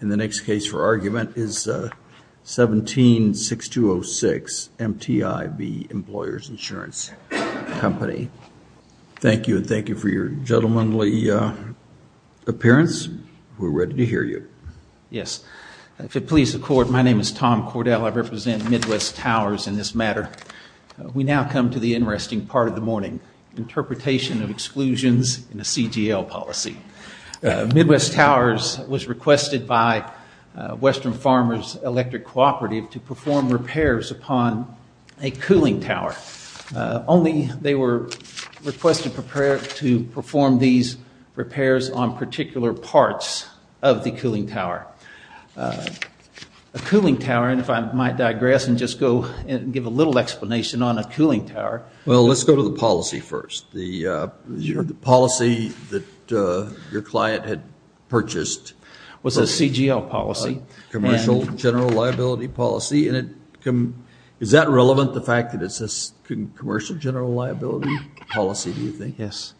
And the next case for argument is 17-6206, MTI v. Employers Insurance Company. Thank you and thank you for your gentlemanly appearance. We're ready to hear you. Yes. If it pleases the court, my name is Tom Cordell. I represent Midwest Towers in this matter. We now come to the interesting part of the morning, interpretation of exclusions in a CGL policy. Midwest Towers was requested by Western Farmers Electric Cooperative to perform repairs upon a cooling tower. Only they were requested to prepare to perform these repairs on particular parts of the cooling tower. A cooling tower, and if I might digress and just go and give a little explanation on a cooling tower. Well, let's go to the policy first. The policy that your client had purchased. Was a CGL policy. Commercial General Liability Policy. Is that relevant, the fact that it's a Commercial General Liability Policy, do you think? Yes.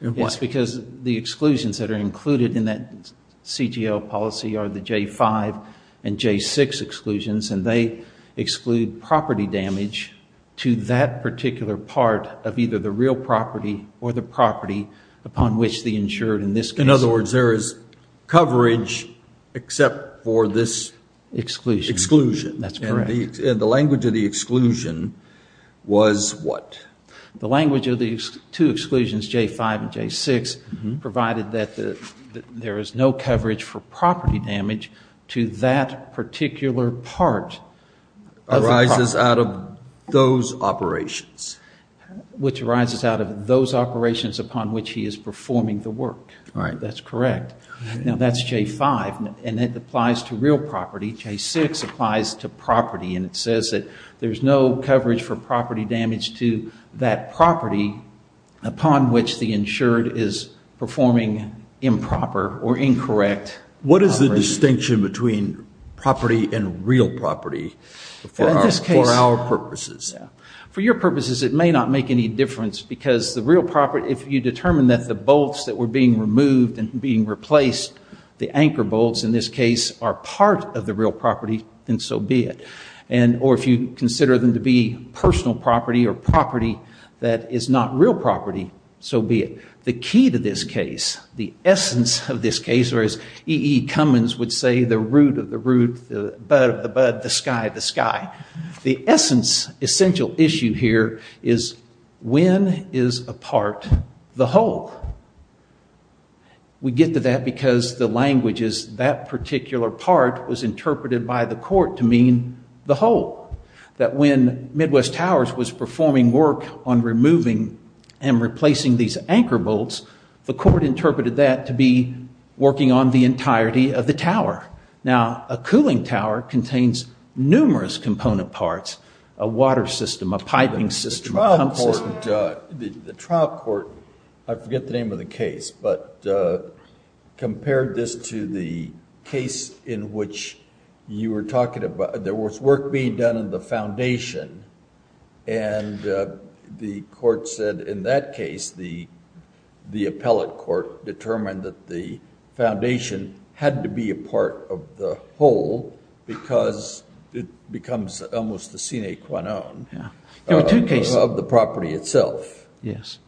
It's because the exclusions that are included in that CGL policy are the J5 and J6 exclusions, and they exclude property damage to that particular part of either the real property or the property upon which they insured in this case. In other words, there is coverage except for this exclusion. That's correct. And the language of the exclusion was what? The language of the two exclusions, J5 and J6, provided that there is no coverage for property damage to that particular part. Arises out of those operations. Which arises out of those operations upon which he is performing the work. That's correct. Now, that's J5, and it applies to real property. J6 applies to property, and it says that there's no coverage for property damage to that property upon which the insured is performing improper or incorrect. What is the distinction between property and real property for our purposes? For your purposes, it may not make any difference because the real property, if you determine that the bolts that were being removed and being replaced, the anchor bolts in this case, are part of the real property, then so be it. Or if you consider them to be personal property or property that is not real property, so be it. The key to this case, the essence of this case, or as E.E. Cummins would say, the root of the root, the bud of the bud, the sky of the sky. The essence, essential issue here is when is a part the whole? We get to that because the language is that particular part was interpreted by the court to mean the whole. That when Midwest Towers was performing work on removing and replacing these anchor bolts, the court interpreted that to be working on the entirety of the tower. Now, a cooling tower contains numerous component parts, a water system, a piping system, a pump system. The trial court, I forget the name of the case, but compared this to the case in which you were talking about, there was work being done on the foundation and the court said in that case, the appellate court determined that the foundation had to be a part of the whole because it becomes almost the sine qua non of the property itself. Yes.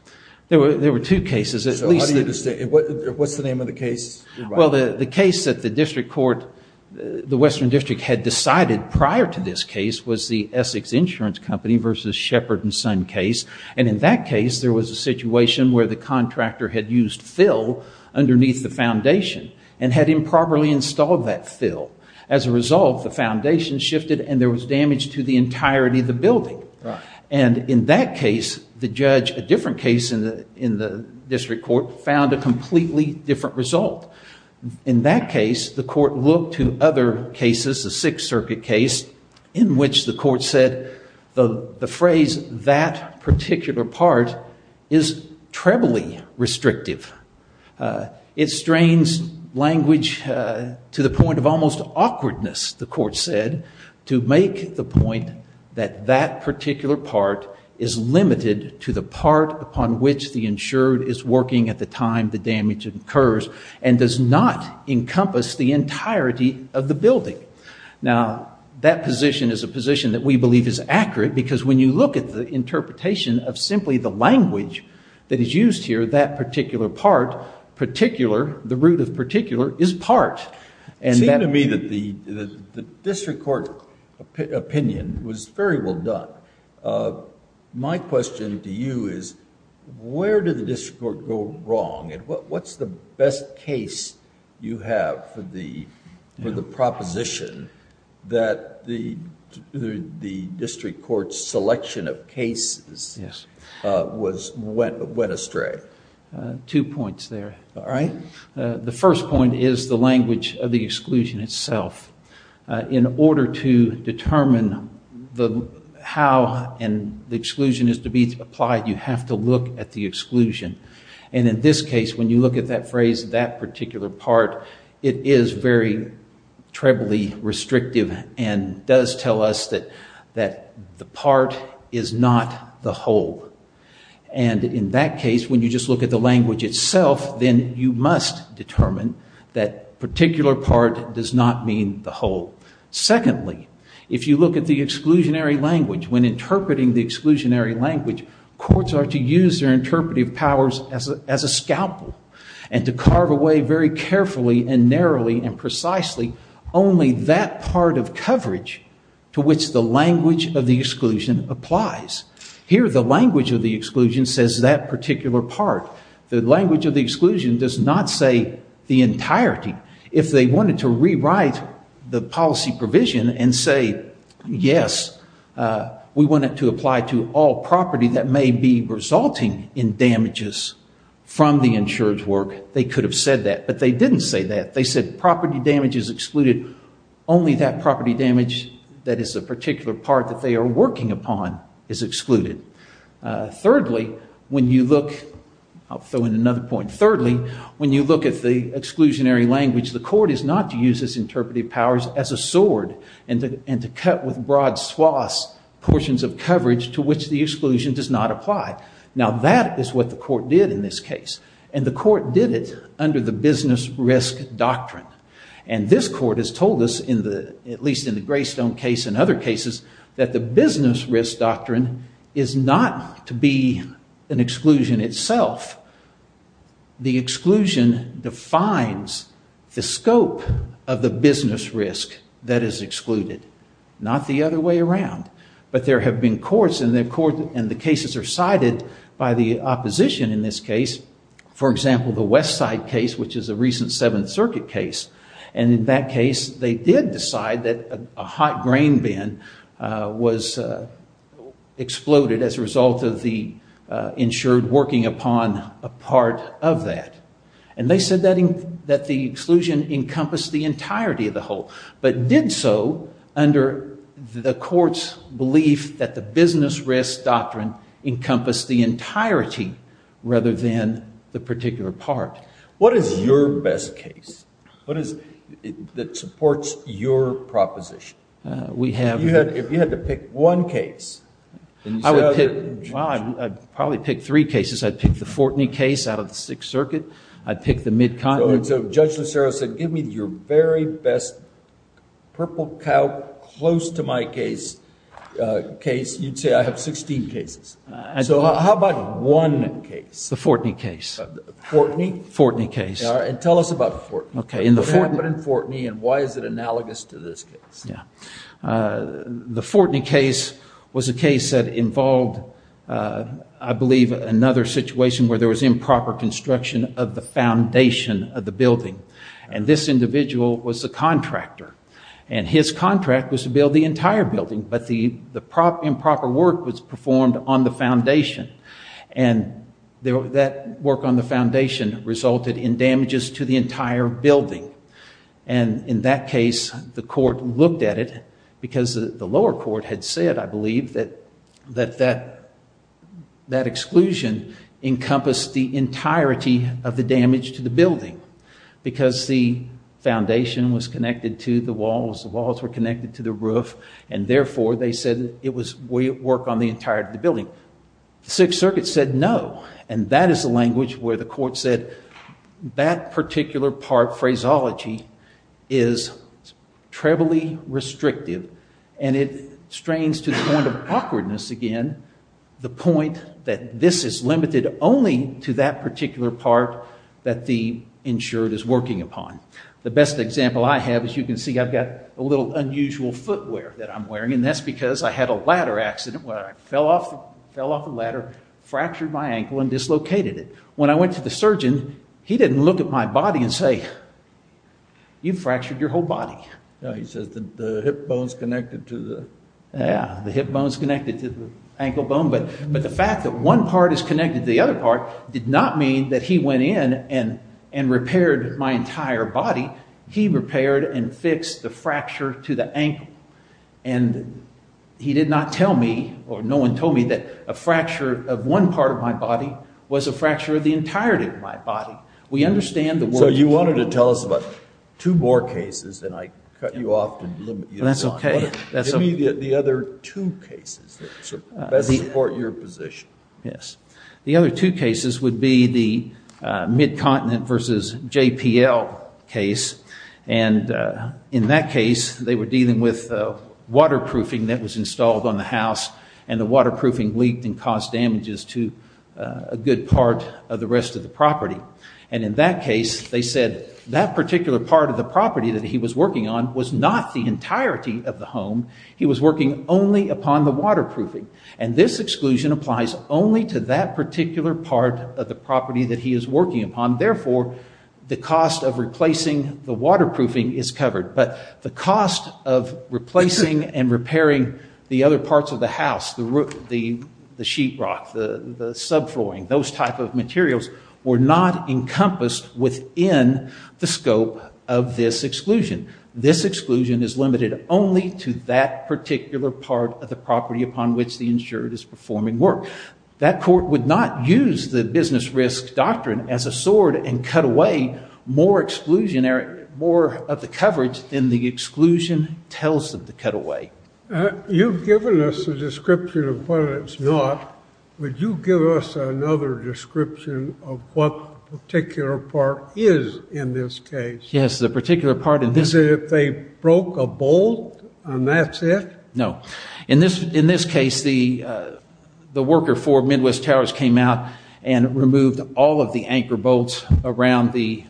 There were two cases. What's the name of the case? Well, the case that the district court, the Western District, had decided prior to this case was the Essex Insurance Company versus Shepard and Son case. In that case, there was a situation where the contractor had used fill underneath the foundation and had improperly installed that fill. As a result, the foundation shifted and there was damage to the entirety of the building. In that case, the judge, a different case in the district court, found a completely different result. In that case, the court looked to other cases, the Sixth Circuit case, in which the court said the phrase that particular part is trebly restrictive. It strains language to the point of almost awkwardness, the court said, to make the point that that particular part is limited to the part upon which the insured is working at the time the damage occurs and does not encompass the entirety of the building. Now, that position is a position that we believe is accurate because when you look at the interpretation of simply the language that is used here, that particular part, particular, the root of particular, is part. It seemed to me that the district court opinion was very well done. My question to you is where did the district court go wrong and what's the best case you have for the proposition that the district court's selection of cases went astray? Two points there. All right. The first point is the language of the exclusion itself. In order to determine how the exclusion is to be applied, you have to look at the exclusion. In this case, when you look at that phrase, that particular part, it is very trebly restrictive and does tell us that the part is not the whole. In that case, when you just look at the language itself, then you must determine that particular part does not mean the whole. Secondly, if you look at the exclusionary language, when interpreting the exclusionary language, courts are to use their interpretive powers as a scalpel and to carve away very carefully and narrowly and precisely only that part of coverage to which the language of the exclusion applies. Here, the language of the exclusion says that particular part. The language of the exclusion does not say the entirety. If they wanted to rewrite the policy provision and say, yes, we want it to apply to all property that may be resulting in damages from the insurer's work, they could have said that. But they didn't say that. They said property damage is excluded, only that property damage that is a particular part that they are working upon is excluded. Thirdly, when you look at the exclusionary language, the court is not to use its interpretive powers as a sword and to cut with broad swaths portions of coverage to which the exclusion does not apply. Now, that is what the court did in this case. And the court did it under the business risk doctrine. And this court has told us, at least in the Greystone case and other cases, that the business risk doctrine is not to be an exclusion itself. The exclusion defines the scope of the business risk that is excluded, not the other way around. But there have been courts, and the cases are sided by the opposition in this case. For example, the West Side case, which is a recent Seventh Circuit case. And in that case, they did decide that a hot grain bin was exploded as a result of the insured working upon a part of that. And they said that the exclusion encompassed the entirety of the whole, but did so under the court's belief that the business risk doctrine encompassed the entirety rather than the particular part. What is your best case? What is it that supports your proposition? We have. If you had to pick one case. I would pick, well, I'd probably pick three cases. I'd pick the Fortney case out of the Sixth Circuit. I'd pick the mid-continent. So Judge Lucero said, give me your very best purple cow close to my case. You'd say, I have 16 cases. So how about one case? The Fortney case. Fortney? Fortney case. All right, and tell us about Fortney. What happened in Fortney, and why is it analogous to this case? The Fortney case was a case that involved, I believe, another situation where there was improper construction of the foundation of the building. And this individual was the contractor. And his contract was to build the entire building, but the improper work was performed on the foundation. And that work on the foundation resulted in damages to the entire building. And in that case, the court looked at it, because the lower court had said, I believe, that that exclusion encompassed the entirety of the damage to the building. Because the foundation was connected to the walls, the walls were connected to the roof, and therefore they said it was work on the entirety of the building. The Sixth Circuit said no, and that is the language where the court said that particular part, phraseology, is trebly restrictive, and it strains to the point of awkwardness again, the point that this is limited only to that particular part that the insured is working upon. The best example I have, as you can see, I've got a little unusual footwear that I'm wearing, and that's because I had a ladder accident where I fell off the ladder, fractured my ankle, and dislocated it. When I went to the surgeon, he didn't look at my body and say, you fractured your whole body. He says the hip bone's connected to the... Yeah, the hip bone's connected to the ankle bone, but the fact that one part is connected to the other part did not mean that he went in and repaired my entire body. He repaired and fixed the fracture to the ankle, and he did not tell me, or no one told me, that a fracture of one part of my body was a fracture of the entirety of my body. We understand the... So you wanted to tell us about two more cases, and I cut you off to limit you. That's okay. Give me the other two cases that best support your position. Yes. The other two cases would be the Mid-Continent v. JPL case, and in that case, they were dealing with waterproofing that was installed on the house, and the waterproofing leaked and caused damages to a good part of the rest of the property. And in that case, they said that particular part of the property that he was working on was not the entirety of the home. He was working only upon the waterproofing, and this exclusion applies only to that particular part of the property that he is working upon. Therefore, the cost of replacing the waterproofing is covered, but the cost of replacing and repairing the other parts of the house, the sheetrock, the subflooring, those type of materials were not encompassed within the scope of this exclusion. This exclusion is limited only to that particular part of the property upon which the insured is performing work. That court would not use the business risk doctrine as a sword and cut away more of the coverage than the exclusion tells them to cut away. You've given us a description of what it's not. Would you give us another description of what the particular part is in this case? Yes, the particular part in this case. Is it if they broke a bolt, and that's it? No. In this case, the worker for Midwest Towers came out and removed all of the anchor bolts around the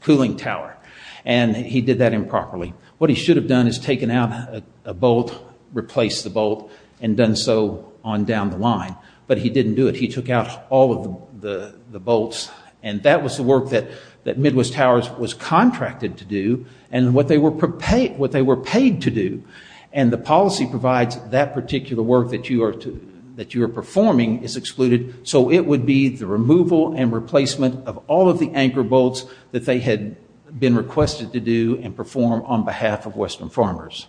cooling tower, and he did that improperly. What he should have done is taken out a bolt, replaced the bolt, and done so on down the line, but he didn't do it. He took out all of the bolts, and that was the work that Midwest Towers was contracted to do, and what they were paid to do, and the policy provides that particular work that you are performing is excluded, so it would be the removal and replacement of all of the anchor bolts that they had been requested to do and perform on behalf of Western farmers.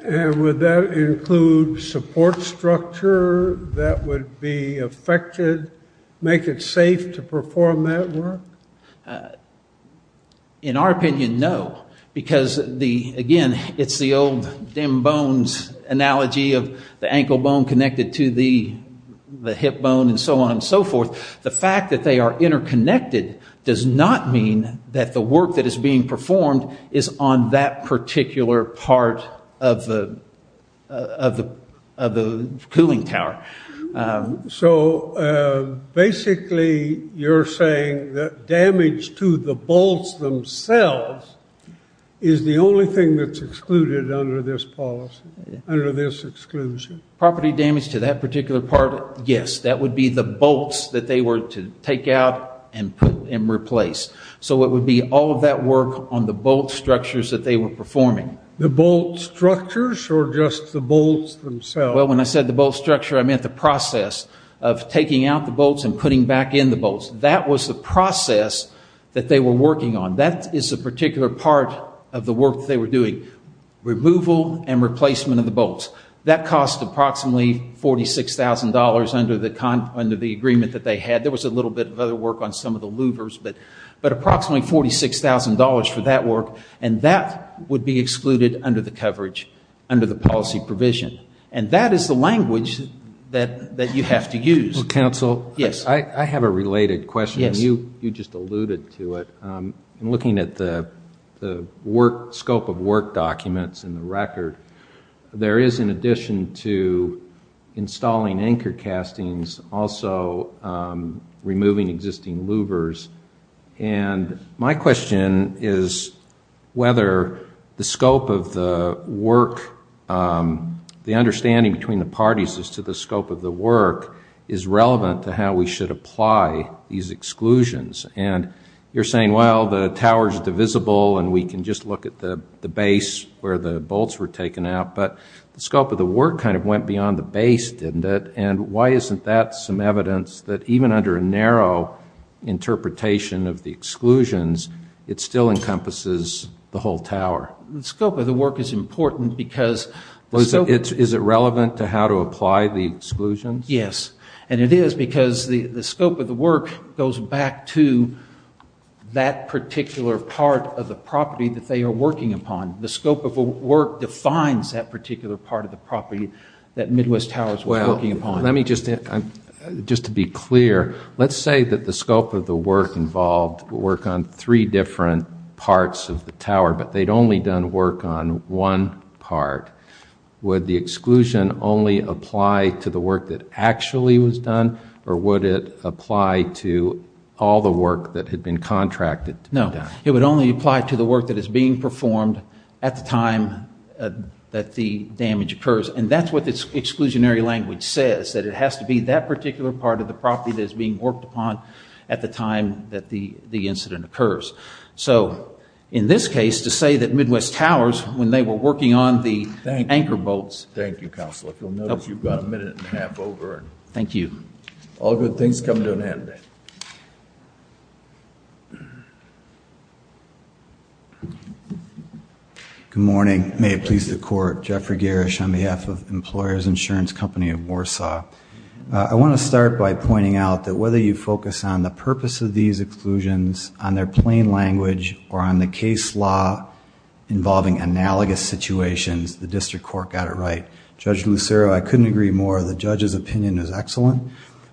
And would that include support structure that would be affected, make it safe to perform that work? In our opinion, no, because, again, it's the old dem bones analogy of the ankle bone connected to the hip bone and so on and so forth. The fact that they are interconnected does not mean that the work that is being performed is on that particular part of the cooling tower. So basically you're saying that damage to the bolts themselves is the only thing that's excluded under this policy, under this exclusion? Property damage to that particular part, yes. That would be the bolts that they were to take out and replace. So it would be all of that work on the bolt structures that they were performing. The bolt structures or just the bolts themselves? Well, when I said the bolt structure, I meant the process of taking out the bolts and putting back in the bolts. That was the process that they were working on. That is a particular part of the work that they were doing, removal and replacement of the bolts. That cost approximately $46,000 under the agreement that they had. There was a little bit of other work on some of the louvers, but approximately $46,000 for that work, and that would be excluded under the coverage, under the policy provision. And that is the language that you have to use. Counsel? Yes. I have a related question. Yes. You just alluded to it. Looking at the scope of work documents in the record, there is, in addition to installing anchor castings, also removing existing louvers. And my question is whether the scope of the work, the understanding between the parties as to the scope of the work, is relevant to how we should apply these exclusions. And you're saying, well, the tower is divisible and we can just look at the base where the bolts were taken out, but the scope of the work kind of went beyond the base, didn't it? And why isn't that some evidence that even under a narrow interpretation of the exclusions, it still encompasses the whole tower? The scope of the work is important because... Is it relevant to how to apply the exclusions? Yes. And it is because the scope of the work goes back to that particular part of the property that they are working upon. The scope of the work defines that particular part of the property that Midwest Towers was working upon. Well, let me just... Just to be clear, let's say that the scope of the work involved would work on three different parts of the tower, but they'd only done work on one part. Would the exclusion only apply to the work that actually was done, or would it apply to all the work that had been contracted to be done? No. It would only apply to the work that is being performed at the time that the damage occurs. And that's what this exclusionary language says, that it has to be that particular part of the property that is being worked upon at the time that the incident occurs. So in this case, to say that Midwest Towers, when they were working on the anchor bolts... Thank you. Thank you, Counselor. If you'll notice, you've got a minute and a half over. Thank you. All good things come to an end. Good morning. May it please the Court. Jeffrey Garish on behalf of Employers Insurance Company of Warsaw. I want to start by pointing out that whether you focus on the purpose of these exclusions, on their plain language, or on the case law involving analogous situations, the District Court got it right. Judge Lucero, I couldn't agree more. The judge's opinion is excellent.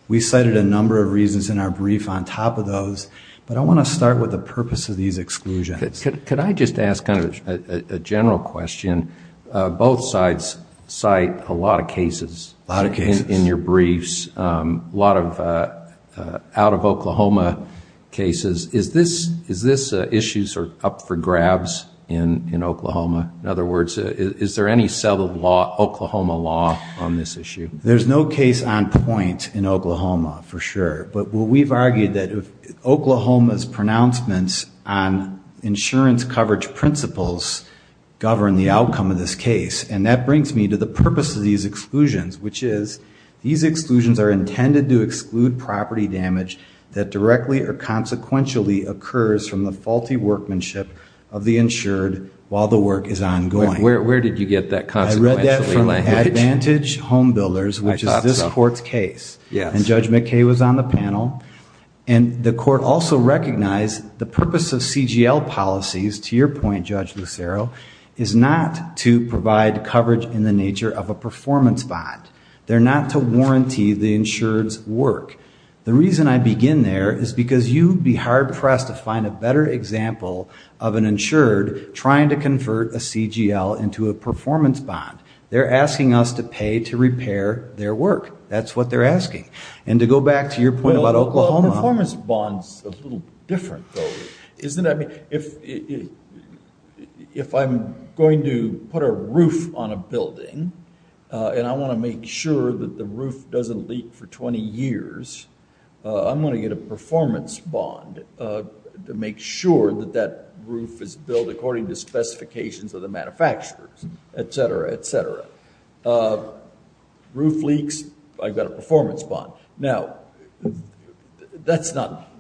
We cited a number of reasons in our brief on top of those, but I want to start with the purpose of these exclusions. Could I just ask kind of a general question? Both sides cite a lot of cases in your briefs, a lot of out-of-Oklahoma cases. Is this issue sort of up for grabs in Oklahoma? In other words, is there any settled Oklahoma law on this issue? There's no case on point in Oklahoma, for sure. But we've argued that Oklahoma's pronouncements on insurance coverage principles govern the outcome of this case. And that brings me to the purpose of these exclusions, which is these exclusions are intended to exclude property damage that directly or consequentially occurs from the faulty workmanship of the insured while the work is ongoing. Where did you get that consequentially language? I read that from Advantage Home Builders, which is this Court's case. And Judge McKay was on the panel. And the Court also recognized the purpose of CGL policies, to your point, Judge Lucero, is not to provide coverage in the nature of a performance bond. They're not to warranty the insured's work. The reason I begin there is because you'd be hard-pressed to find a better example of an insured trying to convert a CGL into a performance bond. They're asking us to pay to repair their work. That's what they're asking. And to go back to your point about Oklahoma. Well, a performance bond's a little different, though, isn't it? I mean, if I'm going to put a roof on a building and I want to make sure that the roof doesn't leak for 20 years, I'm going to get a performance bond to make sure that that roof is built according to specifications of the manufacturers, et cetera, et cetera. Roof leaks, I've got a performance bond. Now, that's not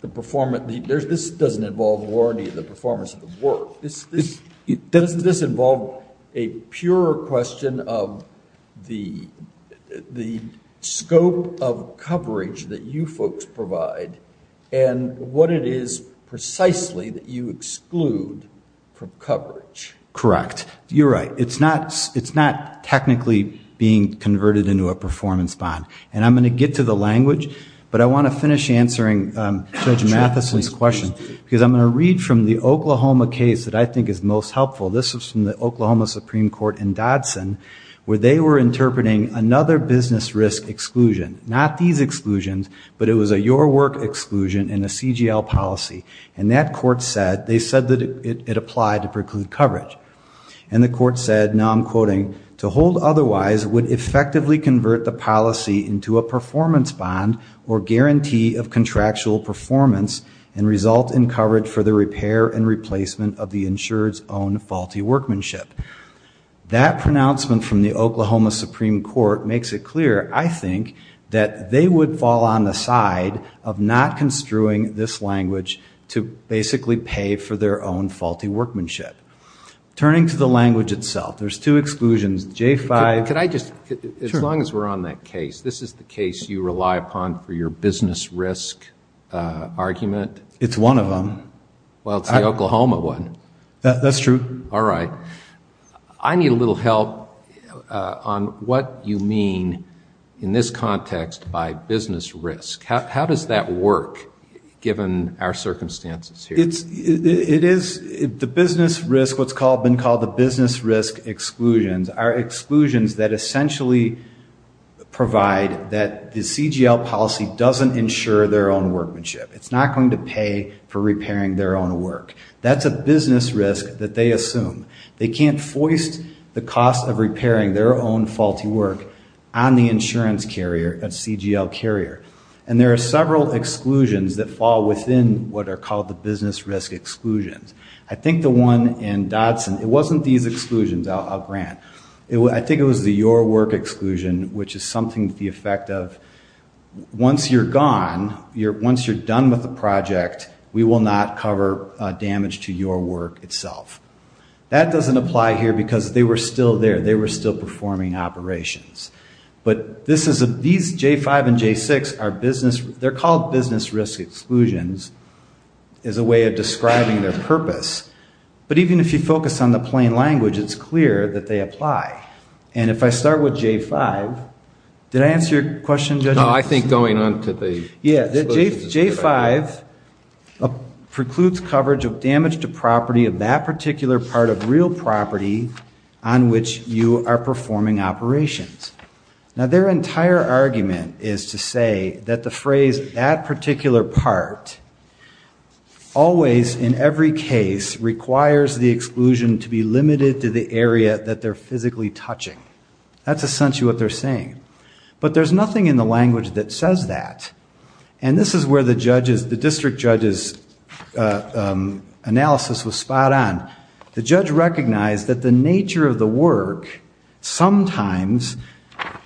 the performance. This doesn't involve warranty of the performance of the work. Doesn't this involve a purer question of the scope of coverage that you folks provide and what it is precisely that you exclude from coverage? Correct. You're right. It's not technically being converted into a performance bond. And I'm going to get to the language, but I want to finish answering Judge Matheson's question because I'm going to read from the Oklahoma case that I think is most helpful. This is from the Oklahoma Supreme Court in Dodson where they were interpreting another business risk exclusion. Not these exclusions, but it was a your work exclusion and a CGL policy. And that court said, they said that it applied to preclude coverage. And the court said, now I'm quoting, to hold otherwise would effectively convert the policy into a performance bond or guarantee of contractual performance and result in coverage for the repair and replacement of the insurer's own faulty workmanship. That pronouncement from the Oklahoma Supreme Court makes it clear, I think, that they would fall on the side of not construing this language to basically pay for their own faulty workmanship. Turning to the language itself, there's two exclusions, J5. Could I just, as long as we're on that case, this is the case you rely upon for your business risk argument? It's one of them. Well, it's the Oklahoma one. That's true. All right. I need a little help on what you mean in this context by business risk. How does that work given our circumstances here? The business risk, what's been called the business risk exclusions, are exclusions that essentially provide that the CGL policy doesn't insure their own workmanship. It's not going to pay for repairing their own work. That's a business risk that they assume. They can't foist the cost of repairing their own faulty work on the insurance carrier, a CGL carrier. And there are several exclusions that fall within what are called the business risk exclusions. I think the one in Dodson, it wasn't these exclusions, I'll grant. I think it was the your work exclusion, which is something with the effect of once you're gone, once you're done with the project, we will not cover damage to your work itself. That doesn't apply here because they were still there. They were still performing operations. But these J5 and J6, they're called business risk exclusions as a way of describing their purpose. But even if you focus on the plain language, it's clear that they apply. And if I start with J5, did I answer your question, Judge? No, I think going on to the exclusions is good. Yeah, J5 precludes coverage of damage to property of that particular part of real property on which you are performing operations. Now, their entire argument is to say that the phrase that particular part always in every case requires the exclusion to be limited to the area that they're physically touching. That's essentially what they're saying. But there's nothing in the language that says that. And this is where the district judge's analysis was spot on. The judge recognized that the nature of the work sometimes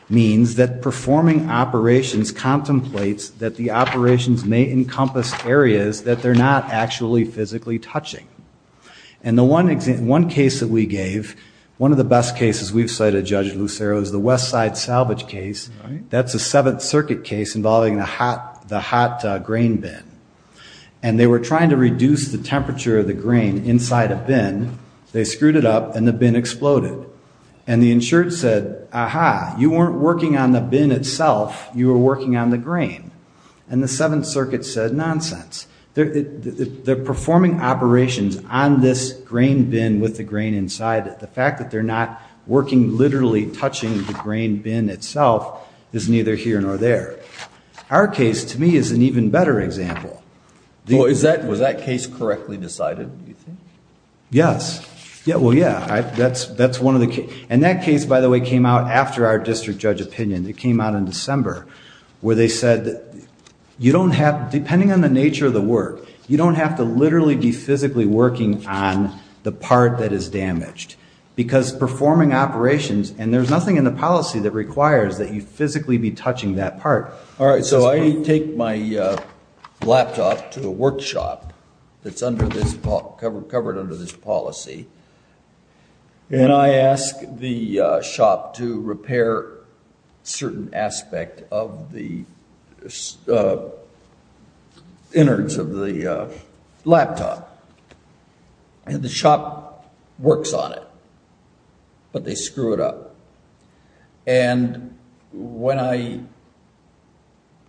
means that performing operations contemplates that the operations may encompass areas that they're not actually physically touching. And the one case that we gave, one of the best cases we've cited, Judge Lucero, is the Westside salvage case. That's a Seventh Circuit case involving the hot grain bin. And they were trying to reduce the temperature of the grain inside a bin. They screwed it up, and the bin exploded. And the insured said, Aha, you weren't working on the bin itself, you were working on the grain. And the Seventh Circuit said, Nonsense. They're performing operations on this grain bin with the grain inside it. The fact that they're not working literally touching the grain bin itself is neither here nor there. Our case, to me, is an even better example. Was that case correctly decided, do you think? Yes. Well, yeah, that's one of the cases. And that case, by the way, came out after our district judge opinion. It came out in December where they said, Depending on the nature of the work, you don't have to literally be physically working on the part that is damaged. Because performing operations, and there's nothing in the policy that requires that you physically be touching that part. All right, so I take my laptop to the workshop that's covered under this policy, and I ask the shop to repair a certain aspect of the innards of the laptop. And the shop works on it, but they screw it up. And when I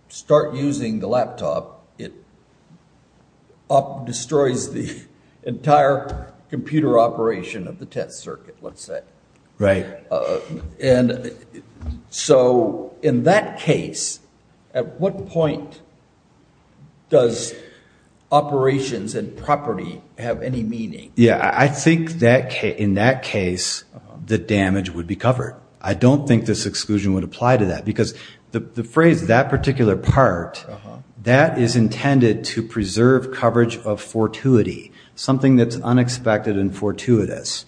start using the laptop, it destroys the entire computer operation of the test circuit, let's say. Right. And so in that case, at what point does operations and property have any meaning? Yeah, I think in that case, the damage would be covered. I don't think this exclusion would apply to that, because the phrase, that particular part, that is intended to preserve coverage of fortuity, something that's unexpected and fortuitous.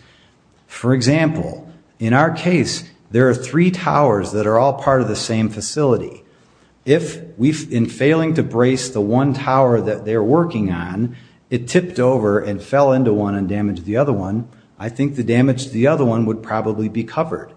For example, in our case, there are three towers that are all part of the same facility. If in failing to brace the one tower that they're working on, it tipped over and fell into one and damaged the other one, I think the damage to the other one would probably be covered.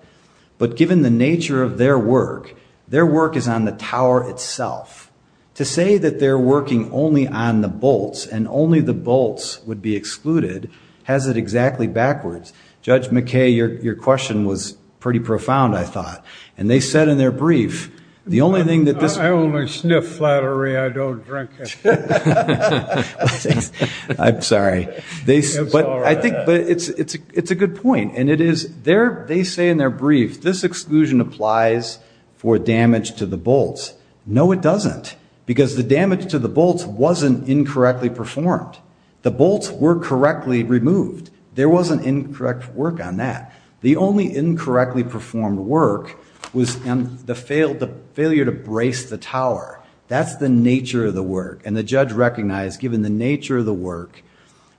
But given the nature of their work, their work is on the tower itself. To say that they're working only on the bolts, and only the bolts would be excluded, has it exactly backwards. Judge McKay, your question was pretty profound, I thought. And they said in their brief, the only thing that this- I only sniff flattery, I don't drink it. I'm sorry. But I think it's a good point. And they say in their brief, this exclusion applies for damage to the bolts. No, it doesn't, because the damage to the bolts wasn't incorrectly performed. The bolts were correctly removed. There wasn't incorrect work on that. The only incorrectly performed work was the failure to brace the tower. That's the nature of the work. And the judge recognized, given the nature of the work,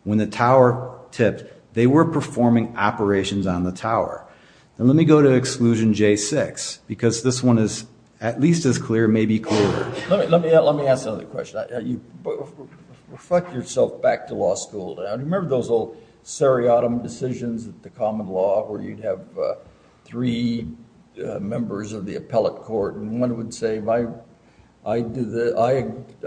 when the tower tipped, they were performing operations on the tower. And let me go to exclusion J6, because this one is at least as clear, maybe clearer. Let me ask another question. Reflect yourself back to law school. Remember those old seriatim decisions at the common law, where you'd have three members of the appellate court, and one would say,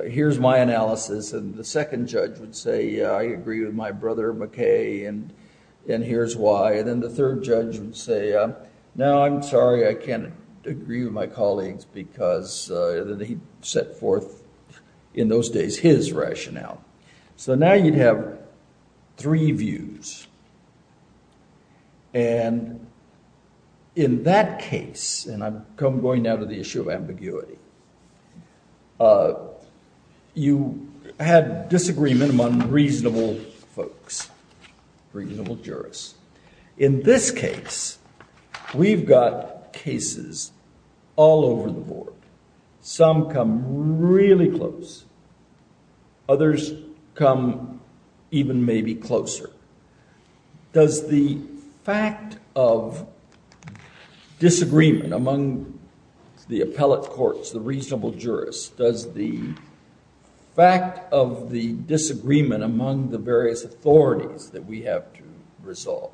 here's my analysis, and the second judge would say, yeah, I agree with my brother McKay, and here's why. And then the third judge would say, no, I'm sorry, I can't agree with my colleagues, because he set forth, in those days, his rationale. So now you'd have three views. And in that case, and I'm going now to the issue of ambiguity, you had disagreement among reasonable folks, reasonable jurists. In this case, we've got cases all over the board. Some come really close. Others come even maybe closer. Does the fact of disagreement among the appellate courts, the reasonable jurists, does the fact of the disagreement among the various authorities that we have to resolve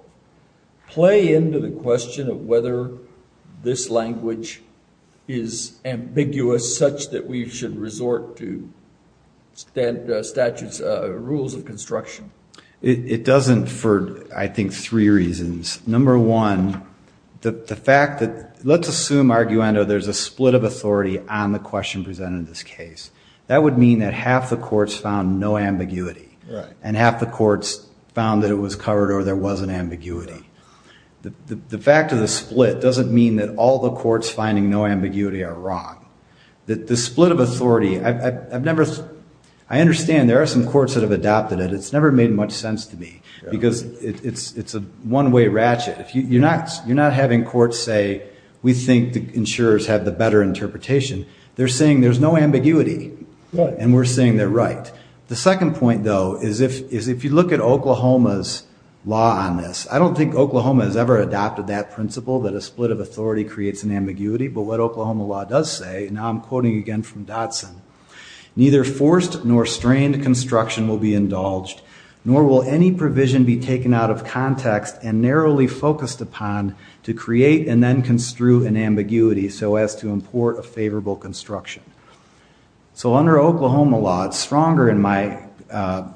play into the question of whether this language is ambiguous was such that we should resort to statutes, rules of construction? It doesn't for, I think, three reasons. Number one, the fact that, let's assume, arguendo, there's a split of authority on the question presented in this case. That would mean that half the courts found no ambiguity, and half the courts found that it was covered or there wasn't ambiguity. The fact of the split doesn't mean that all the courts finding no ambiguity are wrong. The split of authority, I understand there are some courts that have adopted it. It's never made much sense to me because it's a one-way ratchet. You're not having courts say, we think the insurers have the better interpretation. They're saying there's no ambiguity, and we're saying they're right. The second point, though, is if you look at Oklahoma's law on this, I don't think Oklahoma has ever adopted that principle, that a split of authority creates an ambiguity. But what Oklahoma law does say, and now I'm quoting again from Dotson, neither forced nor strained construction will be indulged, nor will any provision be taken out of context and narrowly focused upon to create and then construe an ambiguity so as to import a favorable construction. So under Oklahoma law, it's stronger in my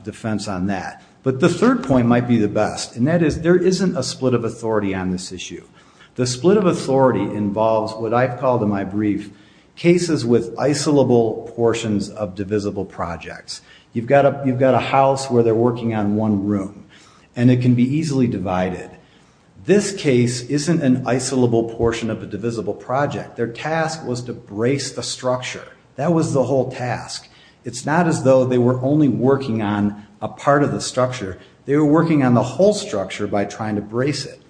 defense on that. But the third point might be the best. And that is there isn't a split of authority on this issue. The split of authority involves what I've called in my brief cases with isolable portions of divisible projects. You've got a house where they're working on one room, and it can be easily divided. This case isn't an isolable portion of a divisible project. Their task was to brace the structure. That was the whole task. It's not as though they were only working on a part of the structure. They were working on the whole structure by trying to brace it.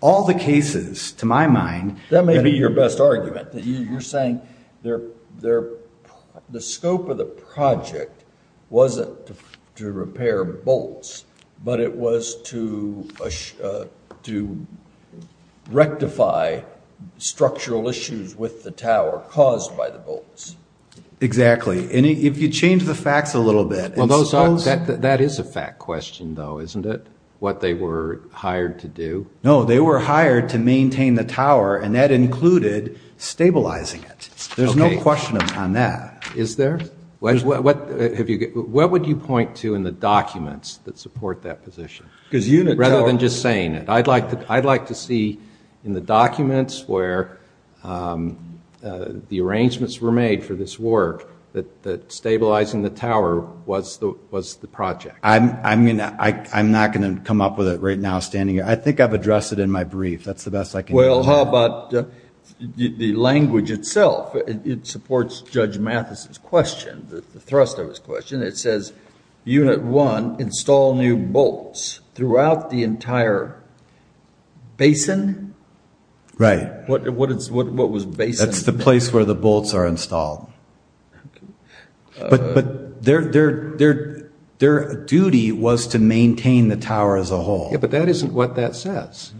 All the cases, to my mind, That may be your best argument. You're saying the scope of the project wasn't to repair bolts, but it was to rectify structural issues with the tower caused by the bolts. Exactly. And if you change the facts a little bit, That is a fact question, though, isn't it? What they were hired to do? No, they were hired to maintain the tower, and that included stabilizing it. There's no question on that. Is there? What would you point to in the documents that support that position? Rather than just saying it. I'd like to see in the documents where the arrangements were made for this work that stabilizing the tower was the project. I'm not going to come up with it right now standing here. I think I've addressed it in my brief. That's the best I can do. Well, how about the language itself? It supports Judge Mathis's question, the thrust of his question. It says, unit one, install new bolts throughout the entire basin. Right. What was basin? That's the place where the bolts are installed. But their duty was to maintain the tower as a whole. Yeah, but that isn't what that says.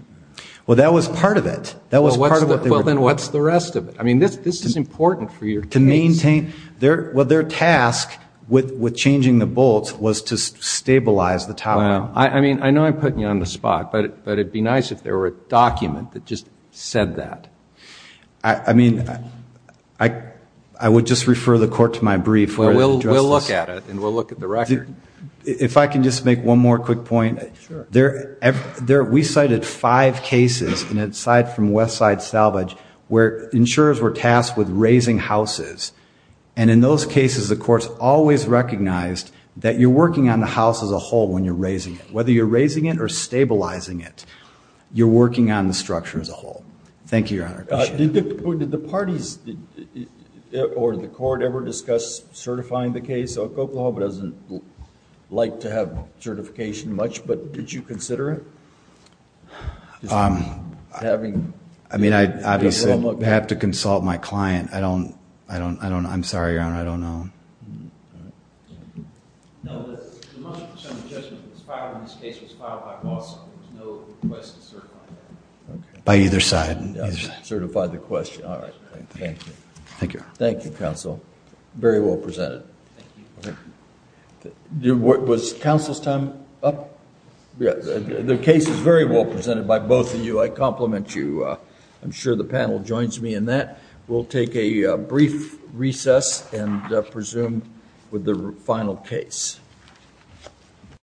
Well, that was part of it. Well, then what's the rest of it? I mean, this is important for your case. Well, their task with changing the bolts was to stabilize the tower. I mean, I know I'm putting you on the spot, but it would be nice if there were a document that just said that. I mean, I would just refer the court to my brief. Well, we'll look at it, and we'll look at the record. If I can just make one more quick point. Sure. We cited five cases from Westside Salvage where insurers were tasked with raising houses, and in those cases the courts always recognized that you're working on the house as a whole when you're raising it. Whether you're raising it or stabilizing it, you're working on the structure as a whole. Thank you, Your Honor. Did the parties or the court ever discuss certifying the case? Oklahoma doesn't like to have certification much, but did you consider it? I mean, obviously, I'd have to consult my client. I'm sorry, Your Honor, I don't know. No, the motion to send the judgment was filed when this case was filed by Boston. There was no request to certify that. By either side. Certify the question. All right. Thank you. Thank you, Your Honor. Thank you, counsel. Very well presented. Was counsel's time up? Yes. The case is very well presented by both of you. I compliment you. I'm sure the panel joins me in that. We'll take a brief recess and presume with the final case.